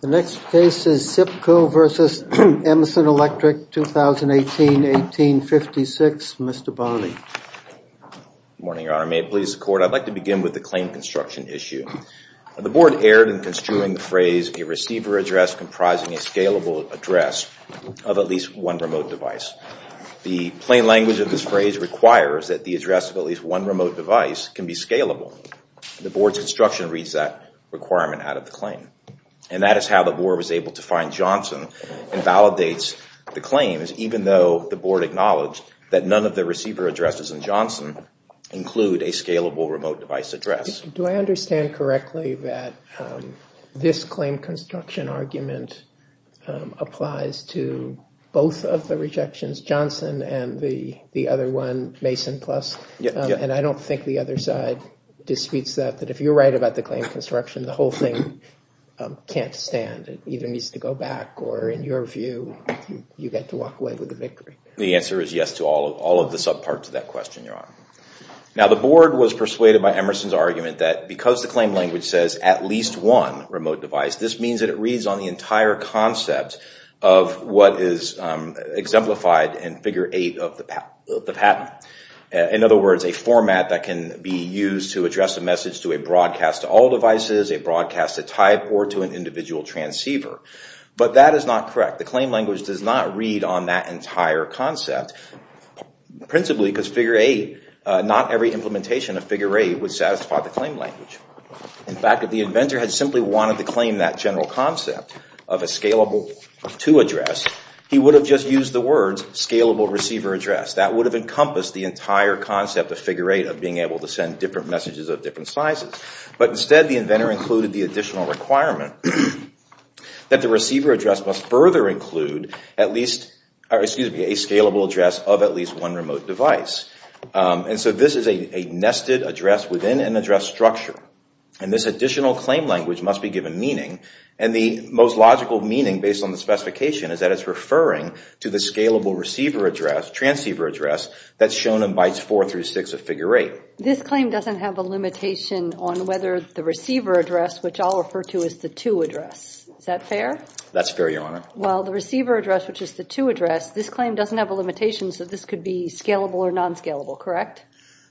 The next case is SIPCO v. Emerson Electric, 2018-1856. Mr. Bonney. Good morning, Your Honor. May it please the The board erred in construing the phrase, a receiver address comprising a scalable address of at least one remote device. The plain language of this phrase requires that the address of at least one remote device can be scalable. The board's construction reads that requirement out of the claim. And that is how the board was able to find Johnson and validates the claims even though the board acknowledged that none of the receiver addresses in Johnson include a scalable remote device address. Do I understand correctly that this claim construction argument applies to both of the rejections, Johnson and the other one, Mason Plus? And I don't think the other side disputes that, that if you're right about the claim construction, the whole thing can't stand. It either needs to go back or, in your view, you get to walk away with the victory. The answer is yes to all of the subparts of that question, Your Honor. Now, the board was persuaded by Emerson's argument that because the claim language says at least one remote device, this means that it reads on the entire concept of what is exemplified in Figure 8 of the patent. In other words, a format that can be used to address a message to a broadcast to all devices, a broadcast to type, or to an individual transceiver. But that is not correct. The claim language does not read on that entire concept, principally because Figure 8, not every implementation of Figure 8 would satisfy the claim language. In fact, if the inventor had simply wanted to claim that general concept of a scalable to address, he would have just used the words scalable receiver address. That would have encompassed the entire concept of Figure 8 of being able to send different messages of different sizes. But instead, the inventor included the additional requirement that the receiver address must further include a scalable address of at least one remote device. And so this is a nested address within an address structure. And this additional claim language must be given meaning. And the most logical meaning, based on the specification, is that it's referring to the scalable receiver address, transceiver address, that's shown in Bites 4 through 6 of Figure 8. This claim doesn't have a limitation on whether the receiver address, which I'll refer to as the to address, is that fair? That's fair, Your Honor. Well, the receiver address, which is the to address, this claim doesn't have a limitation, so this could be scalable or non-scalable, correct?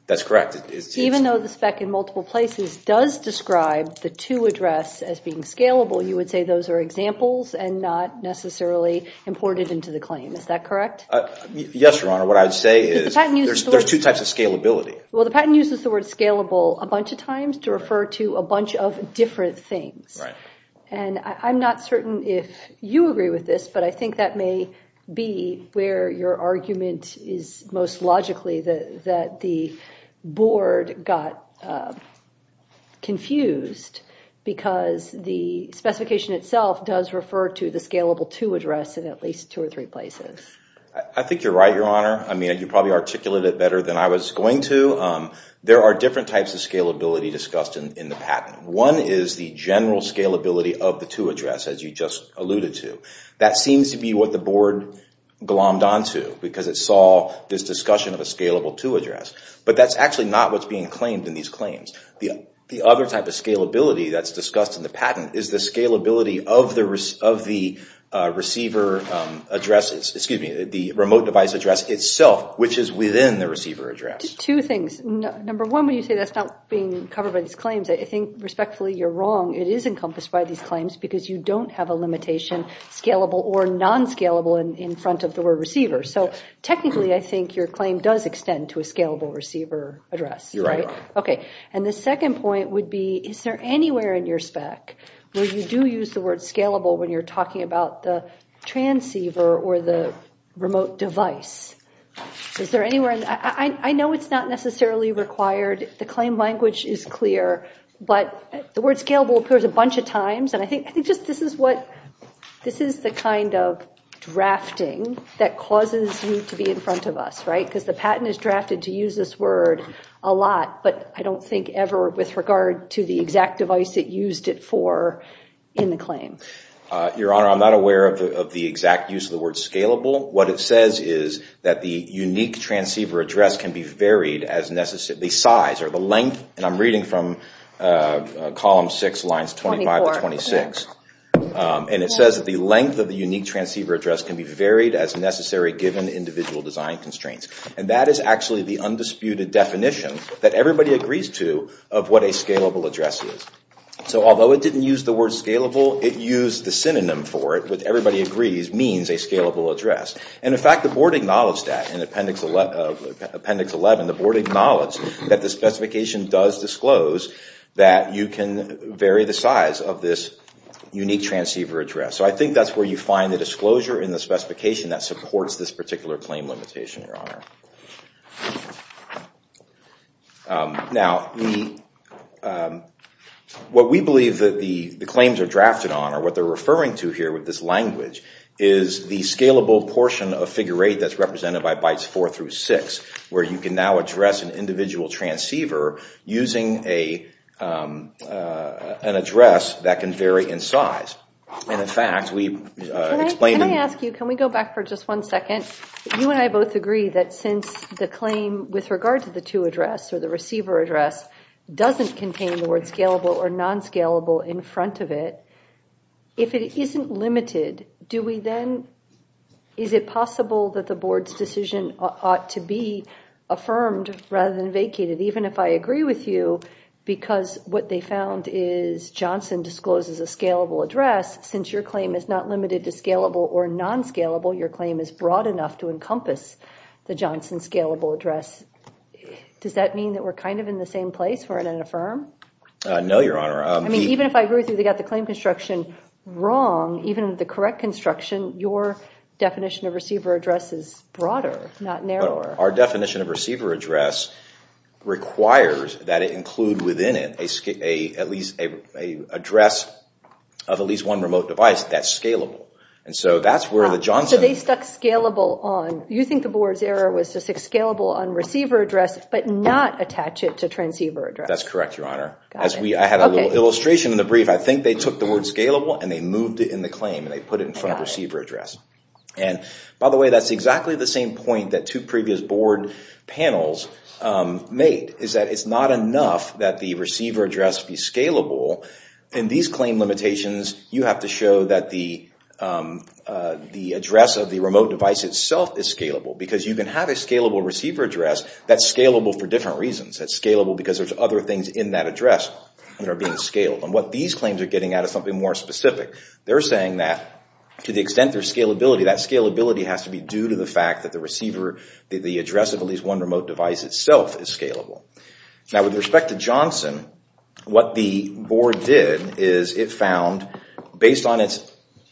That's correct. Even though the spec in multiple places does describe the to address as being scalable, you would say those are examples and not necessarily imported into the claim. Is that correct? Yes, Your Honor. What I would say is there's two types of scalability. Well, the patent uses the word scalable a bunch of times to refer to a bunch of different things. Right. And I'm not certain if you agree with this, but I think that may be where your argument is most logically that the board got confused because the specification itself does refer to the scalable to address in at least two or three places. I think you're right, Your Honor. I mean, you probably articulated it better than I was going to. There are different types of scalability discussed in the patent. One is the general scalability of the to address, as you just alluded to. That seems to be what the board glommed onto because it saw this discussion of a scalable to address. But that's actually not what's being claimed in these claims. The other type of scalability that's discussed in the patent is the scalability of the remote device address itself, which is within the receiver address. Two things. Number one, when you say that's not being covered by these claims, I think respectfully you're wrong. It is encompassed by these claims because you don't have a limitation, scalable or non-scalable, in front of the word receiver. So technically I think your claim does extend to a scalable receiver address. You're right, Your Honor. Okay. And the second point would be, is there anywhere in your spec where you do use the word scalable when you're talking about the transceiver or the remote device? Is there anywhere? I know it's not necessarily required. The claim language is clear. But the word scalable appears a bunch of times. And I think just this is the kind of drafting that causes you to be in front of us, right, because the patent is drafted to use this word a lot. But I don't think ever with regard to the exact device it used it for in the claim. Your Honor, I'm not aware of the exact use of the word scalable. What it says is that the unique transceiver address can be varied as necessary. The size or the length, and I'm reading from column six, lines 25 to 26. And it says that the length of the unique transceiver address can be varied as necessary given individual design constraints. And that is actually the undisputed definition that everybody agrees to of what a scalable address is. So although it didn't use the word scalable, it used the synonym for it with everybody agrees means a scalable address. And in fact, the board acknowledged that in appendix 11. The board acknowledged that the specification does disclose that you can vary the size of this unique transceiver address. So I think that's where you find the disclosure in the specification that supports this particular claim limitation, Your Honor. Now, what we believe that the claims are drafted on, or what they're referring to here with this language, is the scalable portion of figure eight that's represented by bytes four through six, where you can now address an individual transceiver using an address that can vary in size. And in fact, we explain... Can I ask you, can we go back for just one second? You and I both agree that since the claim with regard to the two address or the receiver address, doesn't contain the word scalable or non-scalable in front of it. If it isn't limited, do we then, is it possible that the board's decision ought to be affirmed rather than vacated? Even if I agree with you, because what they found is Johnson discloses a scalable address, since your claim is not limited to scalable or non-scalable, your claim is broad enough to encompass the Johnson scalable address. Does that mean that we're kind of in the same place, we're going to affirm? No, Your Honor. I mean, even if I agree with you, they got the claim construction wrong, even with the correct construction, your definition of receiver address is broader, not narrower. Our definition of receiver address requires that it include within it at least an address of at least one remote device that's scalable. And so that's where the Johnson... So they stuck scalable on... You think the board's error was to stick scalable on receiver address, but not attach it to transceiver address. That's correct, Your Honor. I had a little illustration in the brief. I think they took the word scalable and they moved it in the claim, and they put it in front of receiver address. And by the way, that's exactly the same point that two previous board panels made, is that it's not enough that the receiver address be scalable. In these claim limitations, you have to show that the address of the remote device itself is scalable, because you can have a scalable receiver address that's scalable for different reasons. It's scalable because there's other things in that address that are being scaled. And what these claims are getting at is something more specific. They're saying that to the extent there's scalability, that scalability has to be due to the fact that the address of at least one remote device itself is scalable. Now, with respect to Johnson, what the board did is it found, based on its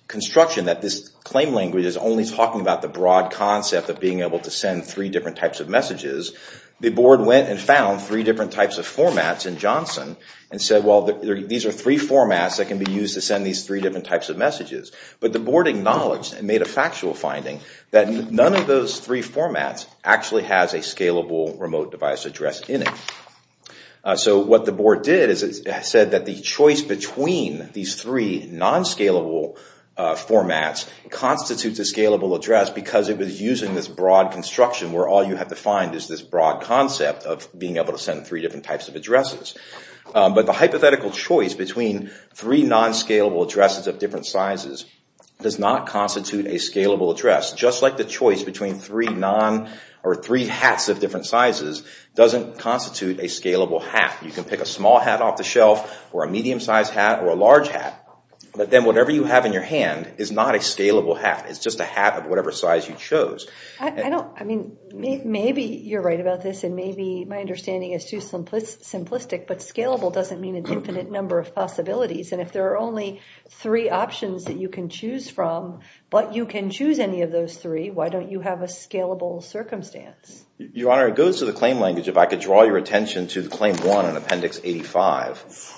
construction, that this claim language is only talking about the broad concept of being able to send three different types of messages. The board went and found three different types of formats in Johnson and said, well, these are three formats that can be used to send these three different types of messages. But the board acknowledged and made a factual finding that none of those three formats actually has a scalable remote device address in it. So what the board did is it said that the choice between these three non-scalable formats constitutes a scalable address because it was using this broad construction where all you have to find is this broad concept of being able to send three different types of addresses. But the hypothetical choice between three non-scalable addresses of different sizes does not constitute a scalable address. Just like the choice between three hats of different sizes doesn't constitute a scalable hat. You can pick a small hat off the shelf or a medium-sized hat or a large hat, but then whatever you have in your hand is not a scalable hat. It's just a hat of whatever size you chose. I mean, maybe you're right about this and maybe my understanding is too simplistic, but scalable doesn't mean an infinite number of possibilities. And if there are only three options that you can choose from, but you can choose any of those three, why don't you have a scalable circumstance? Your Honor, it goes to the claim language. If I could draw your attention to Claim 1 in Appendix 85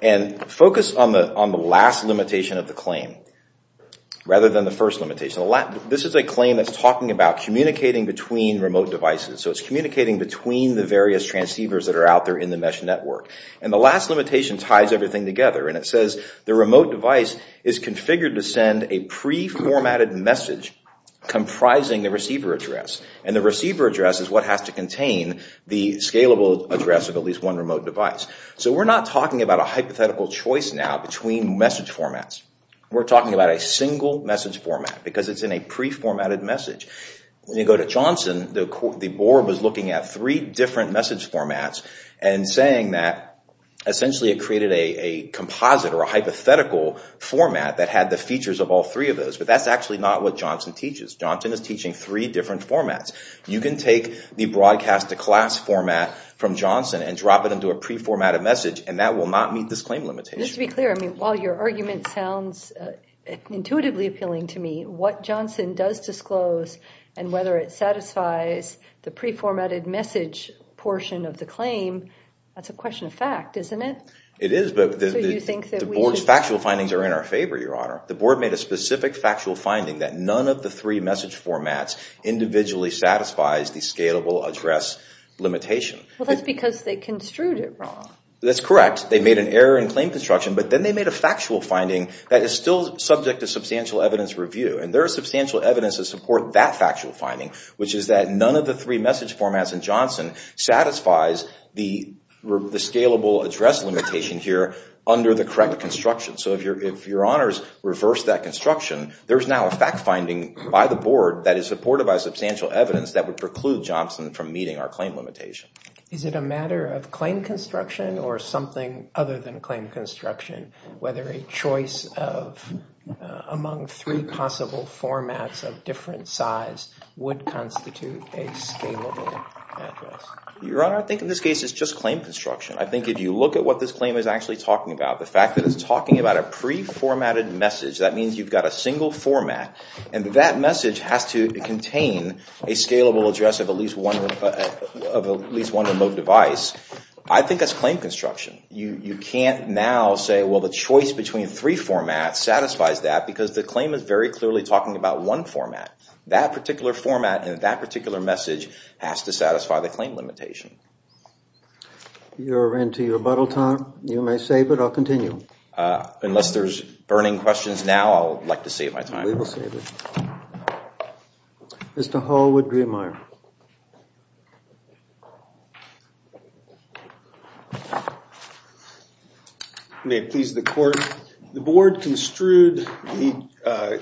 and focus on the last limitation of the claim rather than the first limitation. This is a claim that's talking about communicating between remote devices. So it's communicating between the various transceivers that are out there in the mesh network. And the last limitation ties everything together. And it says the remote device is configured to send a pre-formatted message comprising the receiver address. And the receiver address is what has to contain the scalable address of at least one remote device. So we're not talking about a hypothetical choice now between message formats. We're talking about a single message format because it's in a pre-formatted message. When you go to Johnson, the board was looking at three different message formats and saying that essentially it created a composite or a hypothetical format that had the features of all three of those. But that's actually not what Johnson teaches. Johnson is teaching three different formats. You can take the broadcast-to-class format from Johnson and drop it into a pre-formatted message and that will not meet this claim limitation. Just to be clear, while your argument sounds intuitively appealing to me, what Johnson does disclose and whether it satisfies the pre-formatted message portion of the claim, that's a question of fact, isn't it? It is, but the board's factual findings are in our favor, Your Honor. The board made a specific factual finding that none of the three message formats individually satisfies the scalable address limitation. Well, that's because they construed it wrong. That's correct. They made an error in claim construction, but then they made a factual finding that is still subject to substantial evidence review. And there is substantial evidence to support that factual finding, which is that none of the three message formats in Johnson satisfies the scalable address limitation here under the correct construction. So if Your Honors reverse that construction, there's now a fact finding by the board that is supported by substantial evidence that would preclude Johnson from meeting our claim limitation. Is it a matter of claim construction or something other than claim construction, whether a choice among three possible formats of different size would constitute a scalable address? Your Honor, I think in this case it's just claim construction. I think if you look at what this claim is actually talking about, the fact that it's talking about a pre-formatted message, that means you've got a single format, and that message has to contain a scalable address of at least one remote device. I think that's claim construction. You can't now say, well, the choice between three formats satisfies that because the claim is very clearly talking about one format. That particular format and that particular message has to satisfy the claim limitation. You're into your rebuttal time. You may save it or continue. Unless there's burning questions now, I would like to save my time. We will save it. Mr. Hallwood-Griemeyer. May it please the Court. The board construed the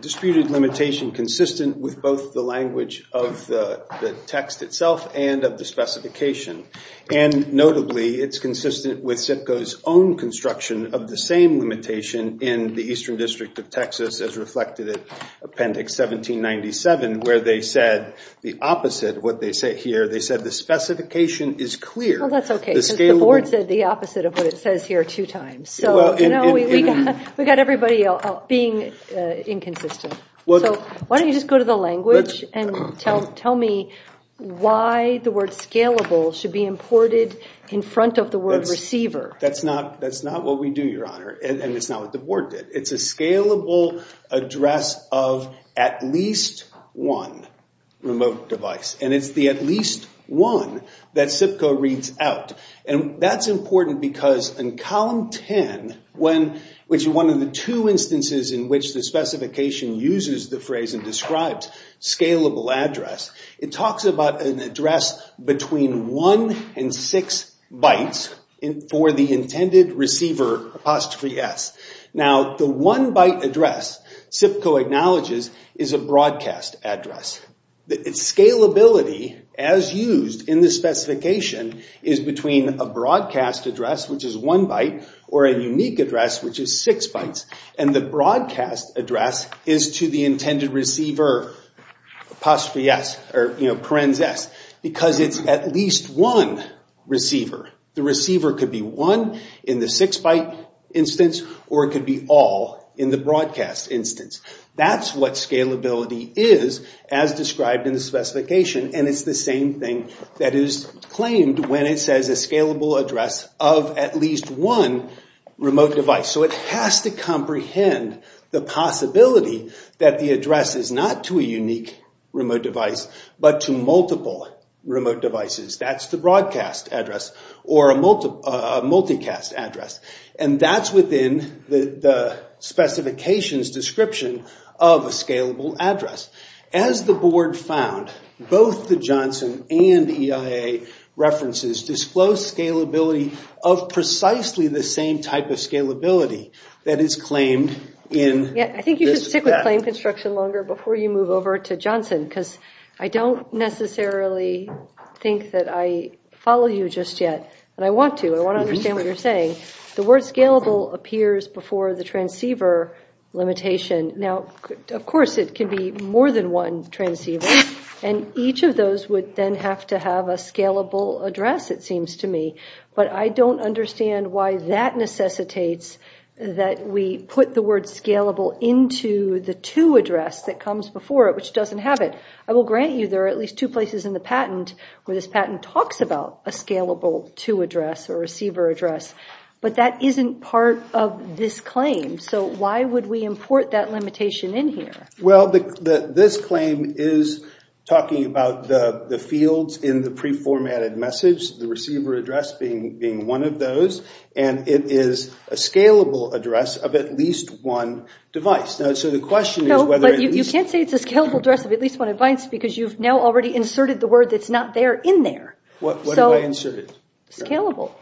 disputed limitation consistent with both the language of the text itself and of the specification, and notably it's consistent with CIPCO's own construction of the same limitation in the Eastern District of Texas as reflected in Appendix 1797 where they said the opposite of what they say here. They said the specification is clear. Well, that's okay. The board said the opposite of what it says here two times. So we've got everybody being inconsistent. So why don't you just go to the language and tell me why the word scalable should be imported in front of the word receiver. That's not what we do, Your Honor, and it's not what the board did. It's a scalable address of at least one remote device, and it's the at least one that CIPCO reads out. And that's important because in Column 10, which is one of the two instances in which the specification uses the phrase and describes scalable address, it talks about an address between one and six bytes for the intended receiver, apostrophe S. Now, the one-byte address CIPCO acknowledges is a broadcast address. Its scalability, as used in the specification, is between a broadcast address, which is one byte, or a unique address, which is six bytes. And the broadcast address is to the intended receiver, apostrophe S, or, you know, parens S, because it's at least one receiver. The receiver could be one in the six-byte instance, or it could be all in the broadcast instance. That's what scalability is as described in the specification, and it's the same thing that is claimed when it says a scalable address of at least one remote device. So it has to comprehend the possibility that the address is not to a unique remote device but to multiple remote devices. That's the broadcast address or a multicast address, and that's within the specification's description of a scalable address. As the board found, both the Johnson and EIA references disclose scalability of precisely the same type of scalability that is claimed in this. I think you should stick with claim construction longer before you move over to Johnson, because I don't necessarily think that I follow you just yet, but I want to. I want to understand what you're saying. The word scalable appears before the transceiver limitation. Now, of course, it can be more than one transceiver, and each of those would then have to have a scalable address, it seems to me. But I don't understand why that necessitates that we put the word scalable into the to address that comes before it, which doesn't have it. I will grant you there are at least two places in the patent where this patent talks about a scalable to address or receiver address, but that isn't part of this claim, so why would we import that limitation in here? Well, this claim is talking about the fields in the preformatted message, the receiver address being one of those, and it is a scalable address of at least one device. You can't say it's a scalable address of at least one device because you've now already inserted the word that's not there in there. What did I insert? Scalable.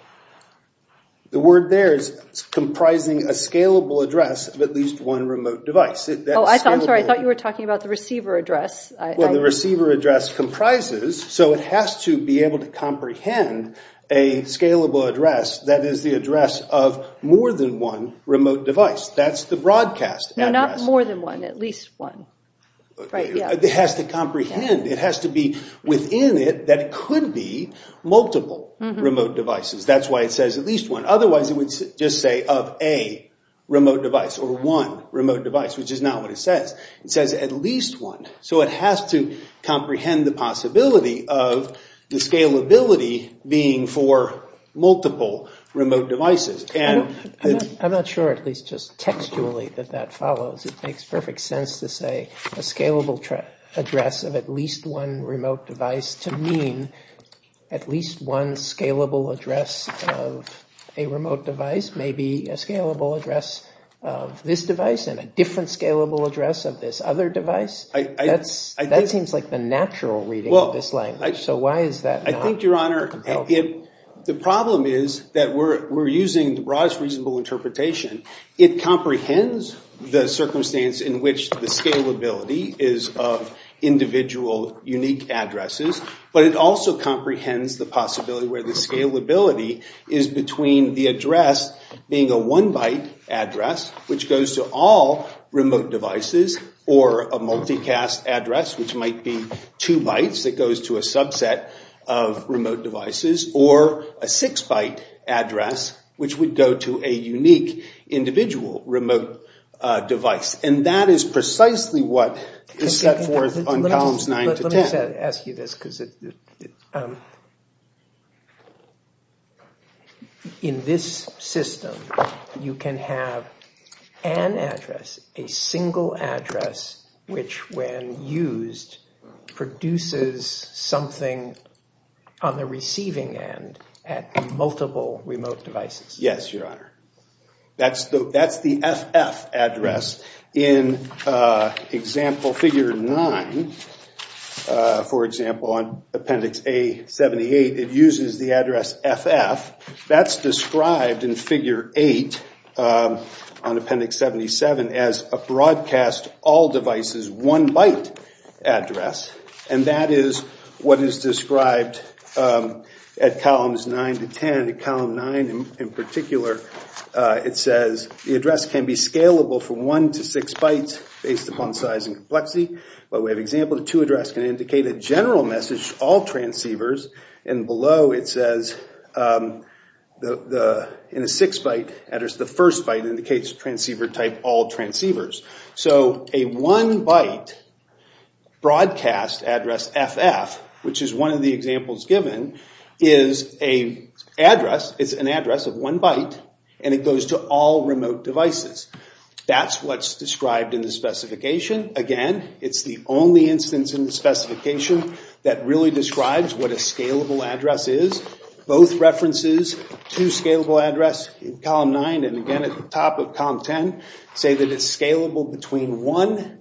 The word there is comprising a scalable address of at least one remote device. Oh, I'm sorry. I thought you were talking about the receiver address. Well, the receiver address comprises, so it has to be able to comprehend a scalable address that is the address of more than one remote device. That's the broadcast address. No, not more than one, at least one. It has to comprehend. It has to be within it that it could be multiple remote devices. That's why it says at least one. Otherwise, it would just say of a remote device or one remote device, which is not what it says. It says at least one, so it has to comprehend the possibility of the scalability being for multiple remote devices. I'm not sure, at least just textually, that that follows. It makes perfect sense to say a scalable address of at least one remote device to mean at least one scalable address of a remote device, maybe a scalable address of this device and a different scalable address of this other device. That seems like the natural reading of this language, so why is that not? The problem is that we're using the broadest reasonable interpretation. It comprehends the circumstance in which the scalability is of individual unique addresses, but it also comprehends the possibility where the scalability is between the address being a one-byte address, which goes to all remote devices, or a multicast address, which might be two bytes that goes to a subset of remote devices, or a six-byte address, which would go to a unique individual remote device. That is precisely what is set forth on columns nine to ten. In this system, you can have an address, a single address, which when used produces something on the receiving end at multiple remote devices. Yes, Your Honor. That's the FF address. In example figure nine, for example, on appendix A78, it uses the address FF. That's described in figure eight on appendix 77 as a broadcast all devices one-byte address, and that is what is described at columns nine to ten. In column nine in particular, it says the address can be scalable from one to six bytes based upon size and complexity. We have an example of a two-address can indicate a general message, all transceivers, and below it says in a six-byte address, the first byte indicates transceiver type, all transceivers. So a one-byte broadcast address, FF, which is one of the examples given, is an address of one byte, and it goes to all remote devices. That's what's described in the specification. Again, it's the only instance in the specification that really describes what a scalable address is. Both references to scalable address in column nine and again at the top of column ten say that it's scalable between one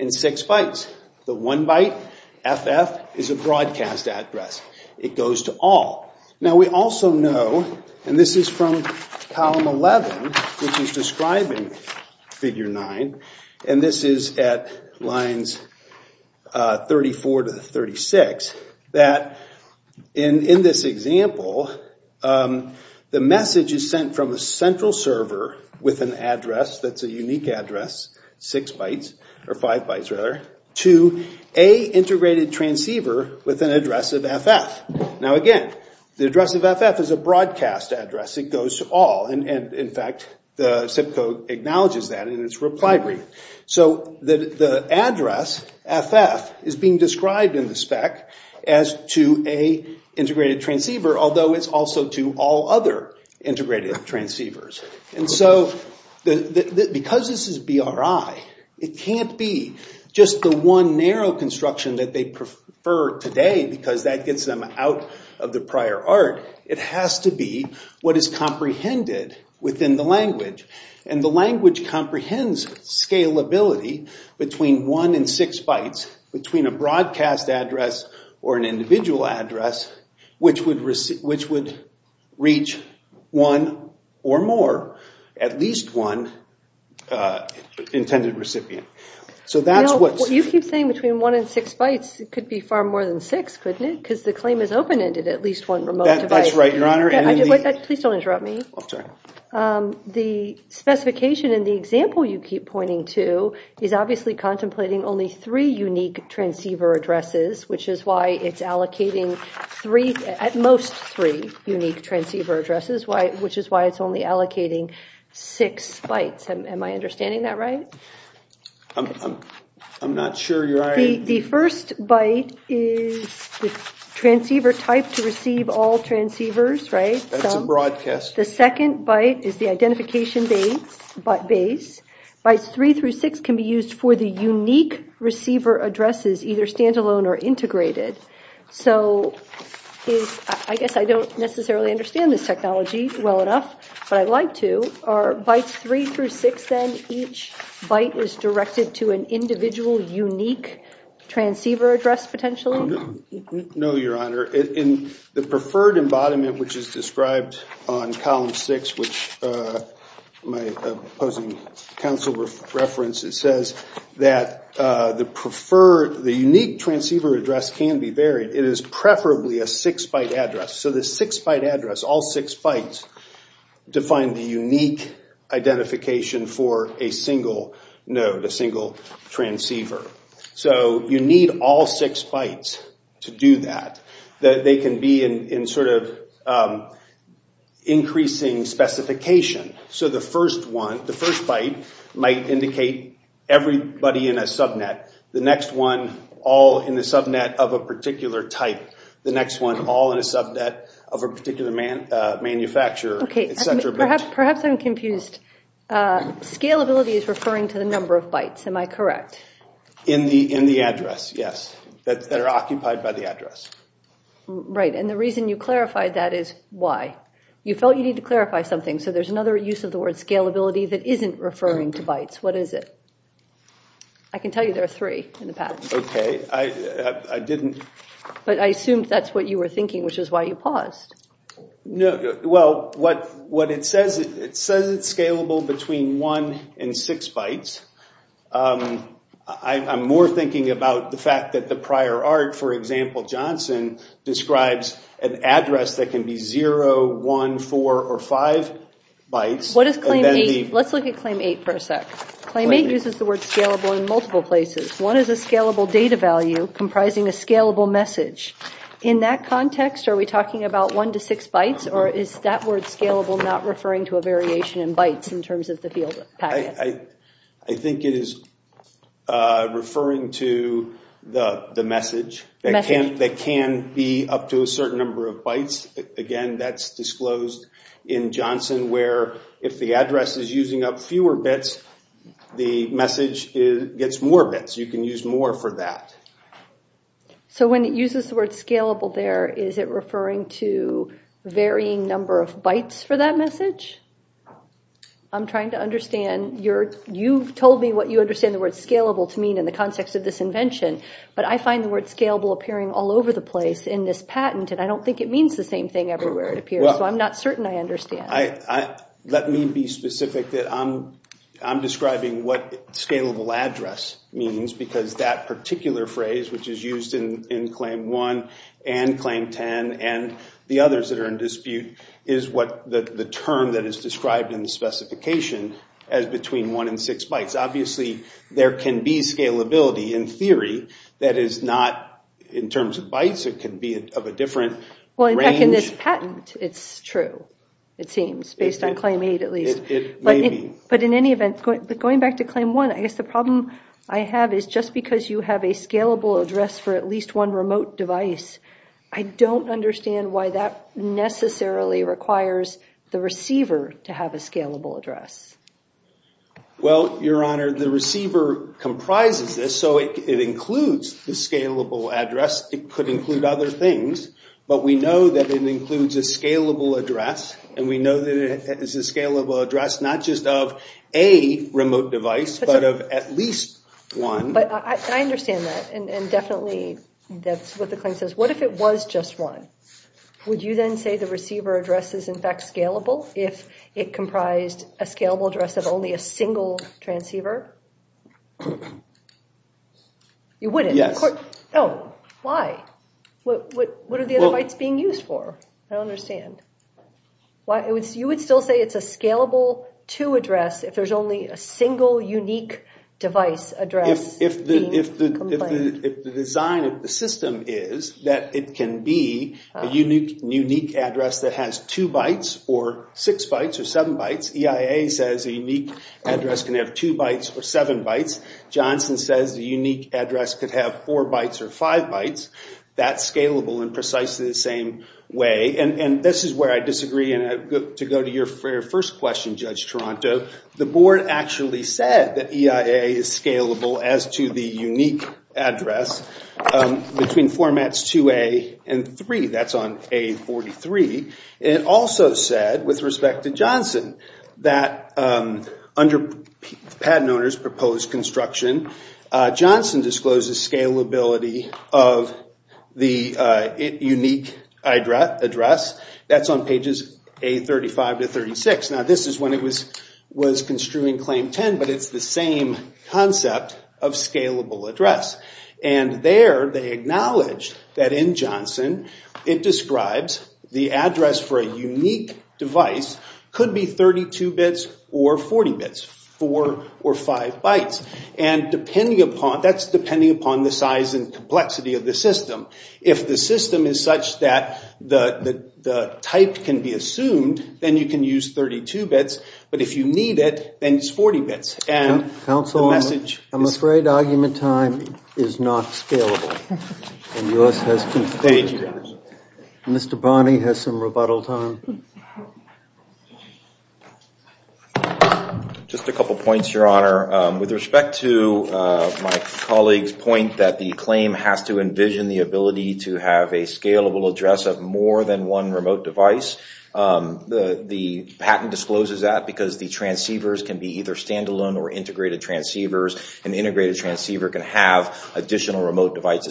and six bytes. The one byte, FF, is a broadcast address. It goes to all. Now we also know, and this is from column 11, which is describing figure nine, and this is at lines 34 to 36, that in this example, the message is sent from a central server with an address that's a unique address, six bytes or five bytes rather, to a integrated transceiver with an address of FF. Now again, the address of FF is a broadcast address. It goes to all. In fact, the zip code acknowledges that in its reply brief. So the address, FF, is being described in the spec as to an integrated transceiver, although it's also to all other integrated transceivers. Because this is BRI, it can't be just the one narrow construction that they prefer today because that gets them out of the prior art. It has to be what is comprehended within the language. And the language comprehends scalability between one and six bytes, between a broadcast address or an individual address, which would reach one or more, at least one intended recipient. You keep saying between one and six bytes. It could be far more than six, couldn't it? Because the claim is open-ended, at least one remote device. That's right, Your Honor. Please don't interrupt me. The specification in the example you keep pointing to is obviously contemplating only three unique transceiver addresses, which is why it's allocating at most three unique transceiver addresses, which is why it's only allocating six bytes. Am I understanding that right? I'm not sure you are. The first byte is the transceiver type to receive all transceivers, right? That's a broadcast. The second byte is the identification base. Bytes three through six can be used for the unique receiver addresses, either standalone or integrated. So I guess I don't necessarily understand this technology well enough, but I'd like to. Are bytes three through six then each byte is directed to an individual unique transceiver address potentially? No, Your Honor. The preferred embodiment, which is described on column six, which my opposing counsel references, says that the unique transceiver address can be varied. It is preferably a six-byte address. So the six-byte address, all six bytes, define the unique identification for a single node, a single transceiver. So you need all six bytes to do that. They can be in sort of increasing specification. So the first one, the first byte, might indicate everybody in a subnet. The next one, all in the subnet of a particular type. The next one, all in a subnet of a particular manufacturer, et cetera. Perhaps I'm confused. Scalability is referring to the number of bytes, am I correct? In the address, yes, that are occupied by the address. Right, and the reason you clarified that is why? You felt you need to clarify something, so there's another use of the word scalability that isn't referring to bytes. What is it? I can tell you there are three in the pattern. Okay, I didn't. But I assumed that's what you were thinking, which is why you paused. Well, what it says, it says it's scalable between one and six bytes. I'm more thinking about the fact that the prior art, for example, Johnson, describes an address that can be 0, 1, 4, or 5 bytes. What is claim 8? Let's look at claim 8 for a sec. Claim 8 uses the word scalable in multiple places. One is a scalable data value comprising a scalable message. In that context, are we talking about one to six bytes, or is that word scalable not referring to a variation in bytes in terms of the field packet? I think it is referring to the message that can be up to a certain number of bytes. Again, that's disclosed in Johnson, where if the address is using up fewer bits, the message gets more bits. You can use more for that. So when it uses the word scalable there, is it referring to varying number of bytes for that message? I'm trying to understand. You've told me what you understand the word scalable to mean in the context of this invention. But I find the word scalable appearing all over the place in this patent, and I don't think it means the same thing everywhere it appears. Let me be specific. I'm describing what scalable address means because that particular phrase, which is used in claim 1 and claim 10 and the others that are in dispute, is the term that is described in the specification as between one and six bytes. Obviously, there can be scalability in theory that is not in terms of bytes. It can be of a different range. In this patent, it's true, it seems, based on claim 8 at least. It may be. But in any event, going back to claim 1, I guess the problem I have is just because you have a scalable address for at least one remote device, I don't understand why that necessarily requires the receiver to have a scalable address. Well, Your Honor, the receiver comprises this, so it includes the scalable address. It could include other things, but we know that it includes a scalable address, and we know that it is a scalable address not just of a remote device, but of at least one. But I understand that, and definitely that's what the claim says. What if it was just one? Would you then say the receiver address is in fact scalable if it comprised a scalable address of only a single transceiver? You wouldn't. Oh, why? What are the other bytes being used for? I don't understand. You would still say it's a scalable 2 address if there's only a single unique device address? If the design of the system is that it can be a unique address that has 2 bytes or 6 bytes or 7 bytes, EIA says a unique address can have 2 bytes or 7 bytes, Johnson says a unique address could have 4 bytes or 5 bytes. That's scalable in precisely the same way. And this is where I disagree, and to go to your first question, Judge Toronto, the board actually said that EIA is scalable as to the unique address between formats 2A and 3. That's on A43. It also said, with respect to Johnson, that under patent owner's proposed construction, Johnson discloses scalability of the unique address. That's on pages A35 to 36. Now this is when it was construing Claim 10, but it's the same concept of scalable address. And there they acknowledge that in Johnson it describes the address for a unique device could be 32 bits or 40 bits, 4 or 5 bytes, and that's depending upon the size and complexity of the system. If the system is such that the type can be assumed, then you can use 32 bits, but if you need it, then it's 40 bits. Counsel, I'm afraid argument time is not scalable. Mr. Barney has some rebuttal time. Just a couple points, Your Honor. With respect to my colleague's point that the claim has to envision the ability to have a scalable address of more than one remote device, the patent discloses that because the transceivers can be either standalone or integrated transceivers. An integrated transceiver can have additional remote devices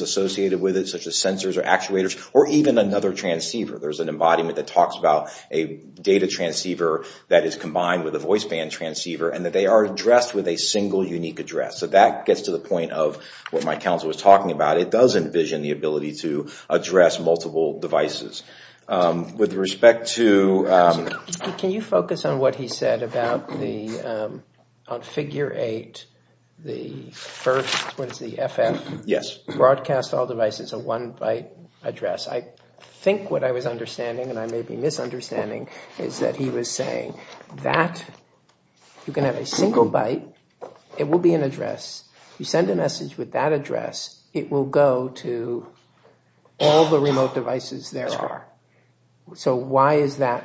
associated with it, such as sensors or actuators, or even another transceiver. There's an embodiment that talks about a data transceiver that is combined with a voice band transceiver, and that they are addressed with a single unique address. So that gets to the point of what my counsel was talking about. It does envision the ability to address multiple devices. With respect to... Counsel, can you focus on what he said about the, on figure 8, the first, what is the FM? Yes. Broadcast all devices at one byte address. I think what I was understanding, and I may be misunderstanding, is that he was saying that you can have a single byte. It will be an address. You send a message with that address, it will go to all the remote devices there are. That's right. So why is that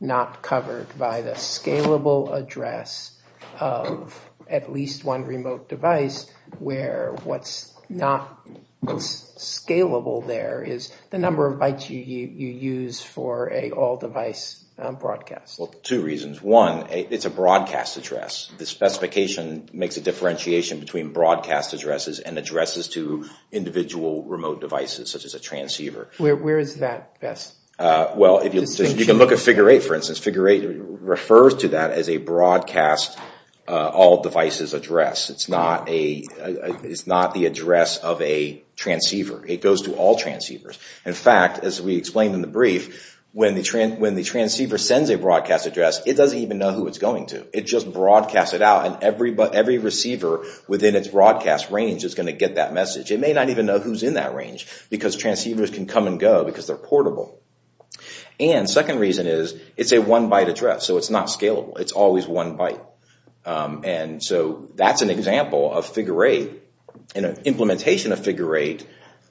not covered by the scalable address of at least one remote device, where what's not scalable there is the number of bytes you use for an all-device broadcast? Well, two reasons. One, it's a broadcast address. The specification makes a differentiation between broadcast addresses and addresses to individual remote devices, such as a transceiver. Where is that best? Well, if you look at figure 8, for instance, figure 8 refers to that as a broadcast all devices address. It's not the address of a transceiver. It goes to all transceivers. In fact, as we explained in the brief, when the transceiver sends a broadcast address, it doesn't even know who it's going to. It just broadcasts it out, and every receiver within its broadcast range is going to get that message. It may not even know who's in that range because transceivers can come and go because they're portable. And second reason is it's a one-byte address, so it's not scalable. It's always one byte. And so that's an example of figure 8 and an implementation of figure 8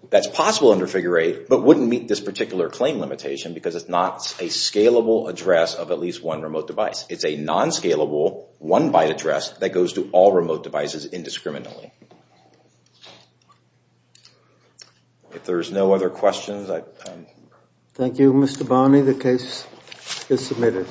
that's possible under figure 8 but wouldn't meet this particular claim limitation because it's not a scalable address of at least one remote device. It's a non-scalable one-byte address that goes to all remote devices indiscriminately. If there's no other questions, I... Thank you, Mr. Bonney. The case is submitted.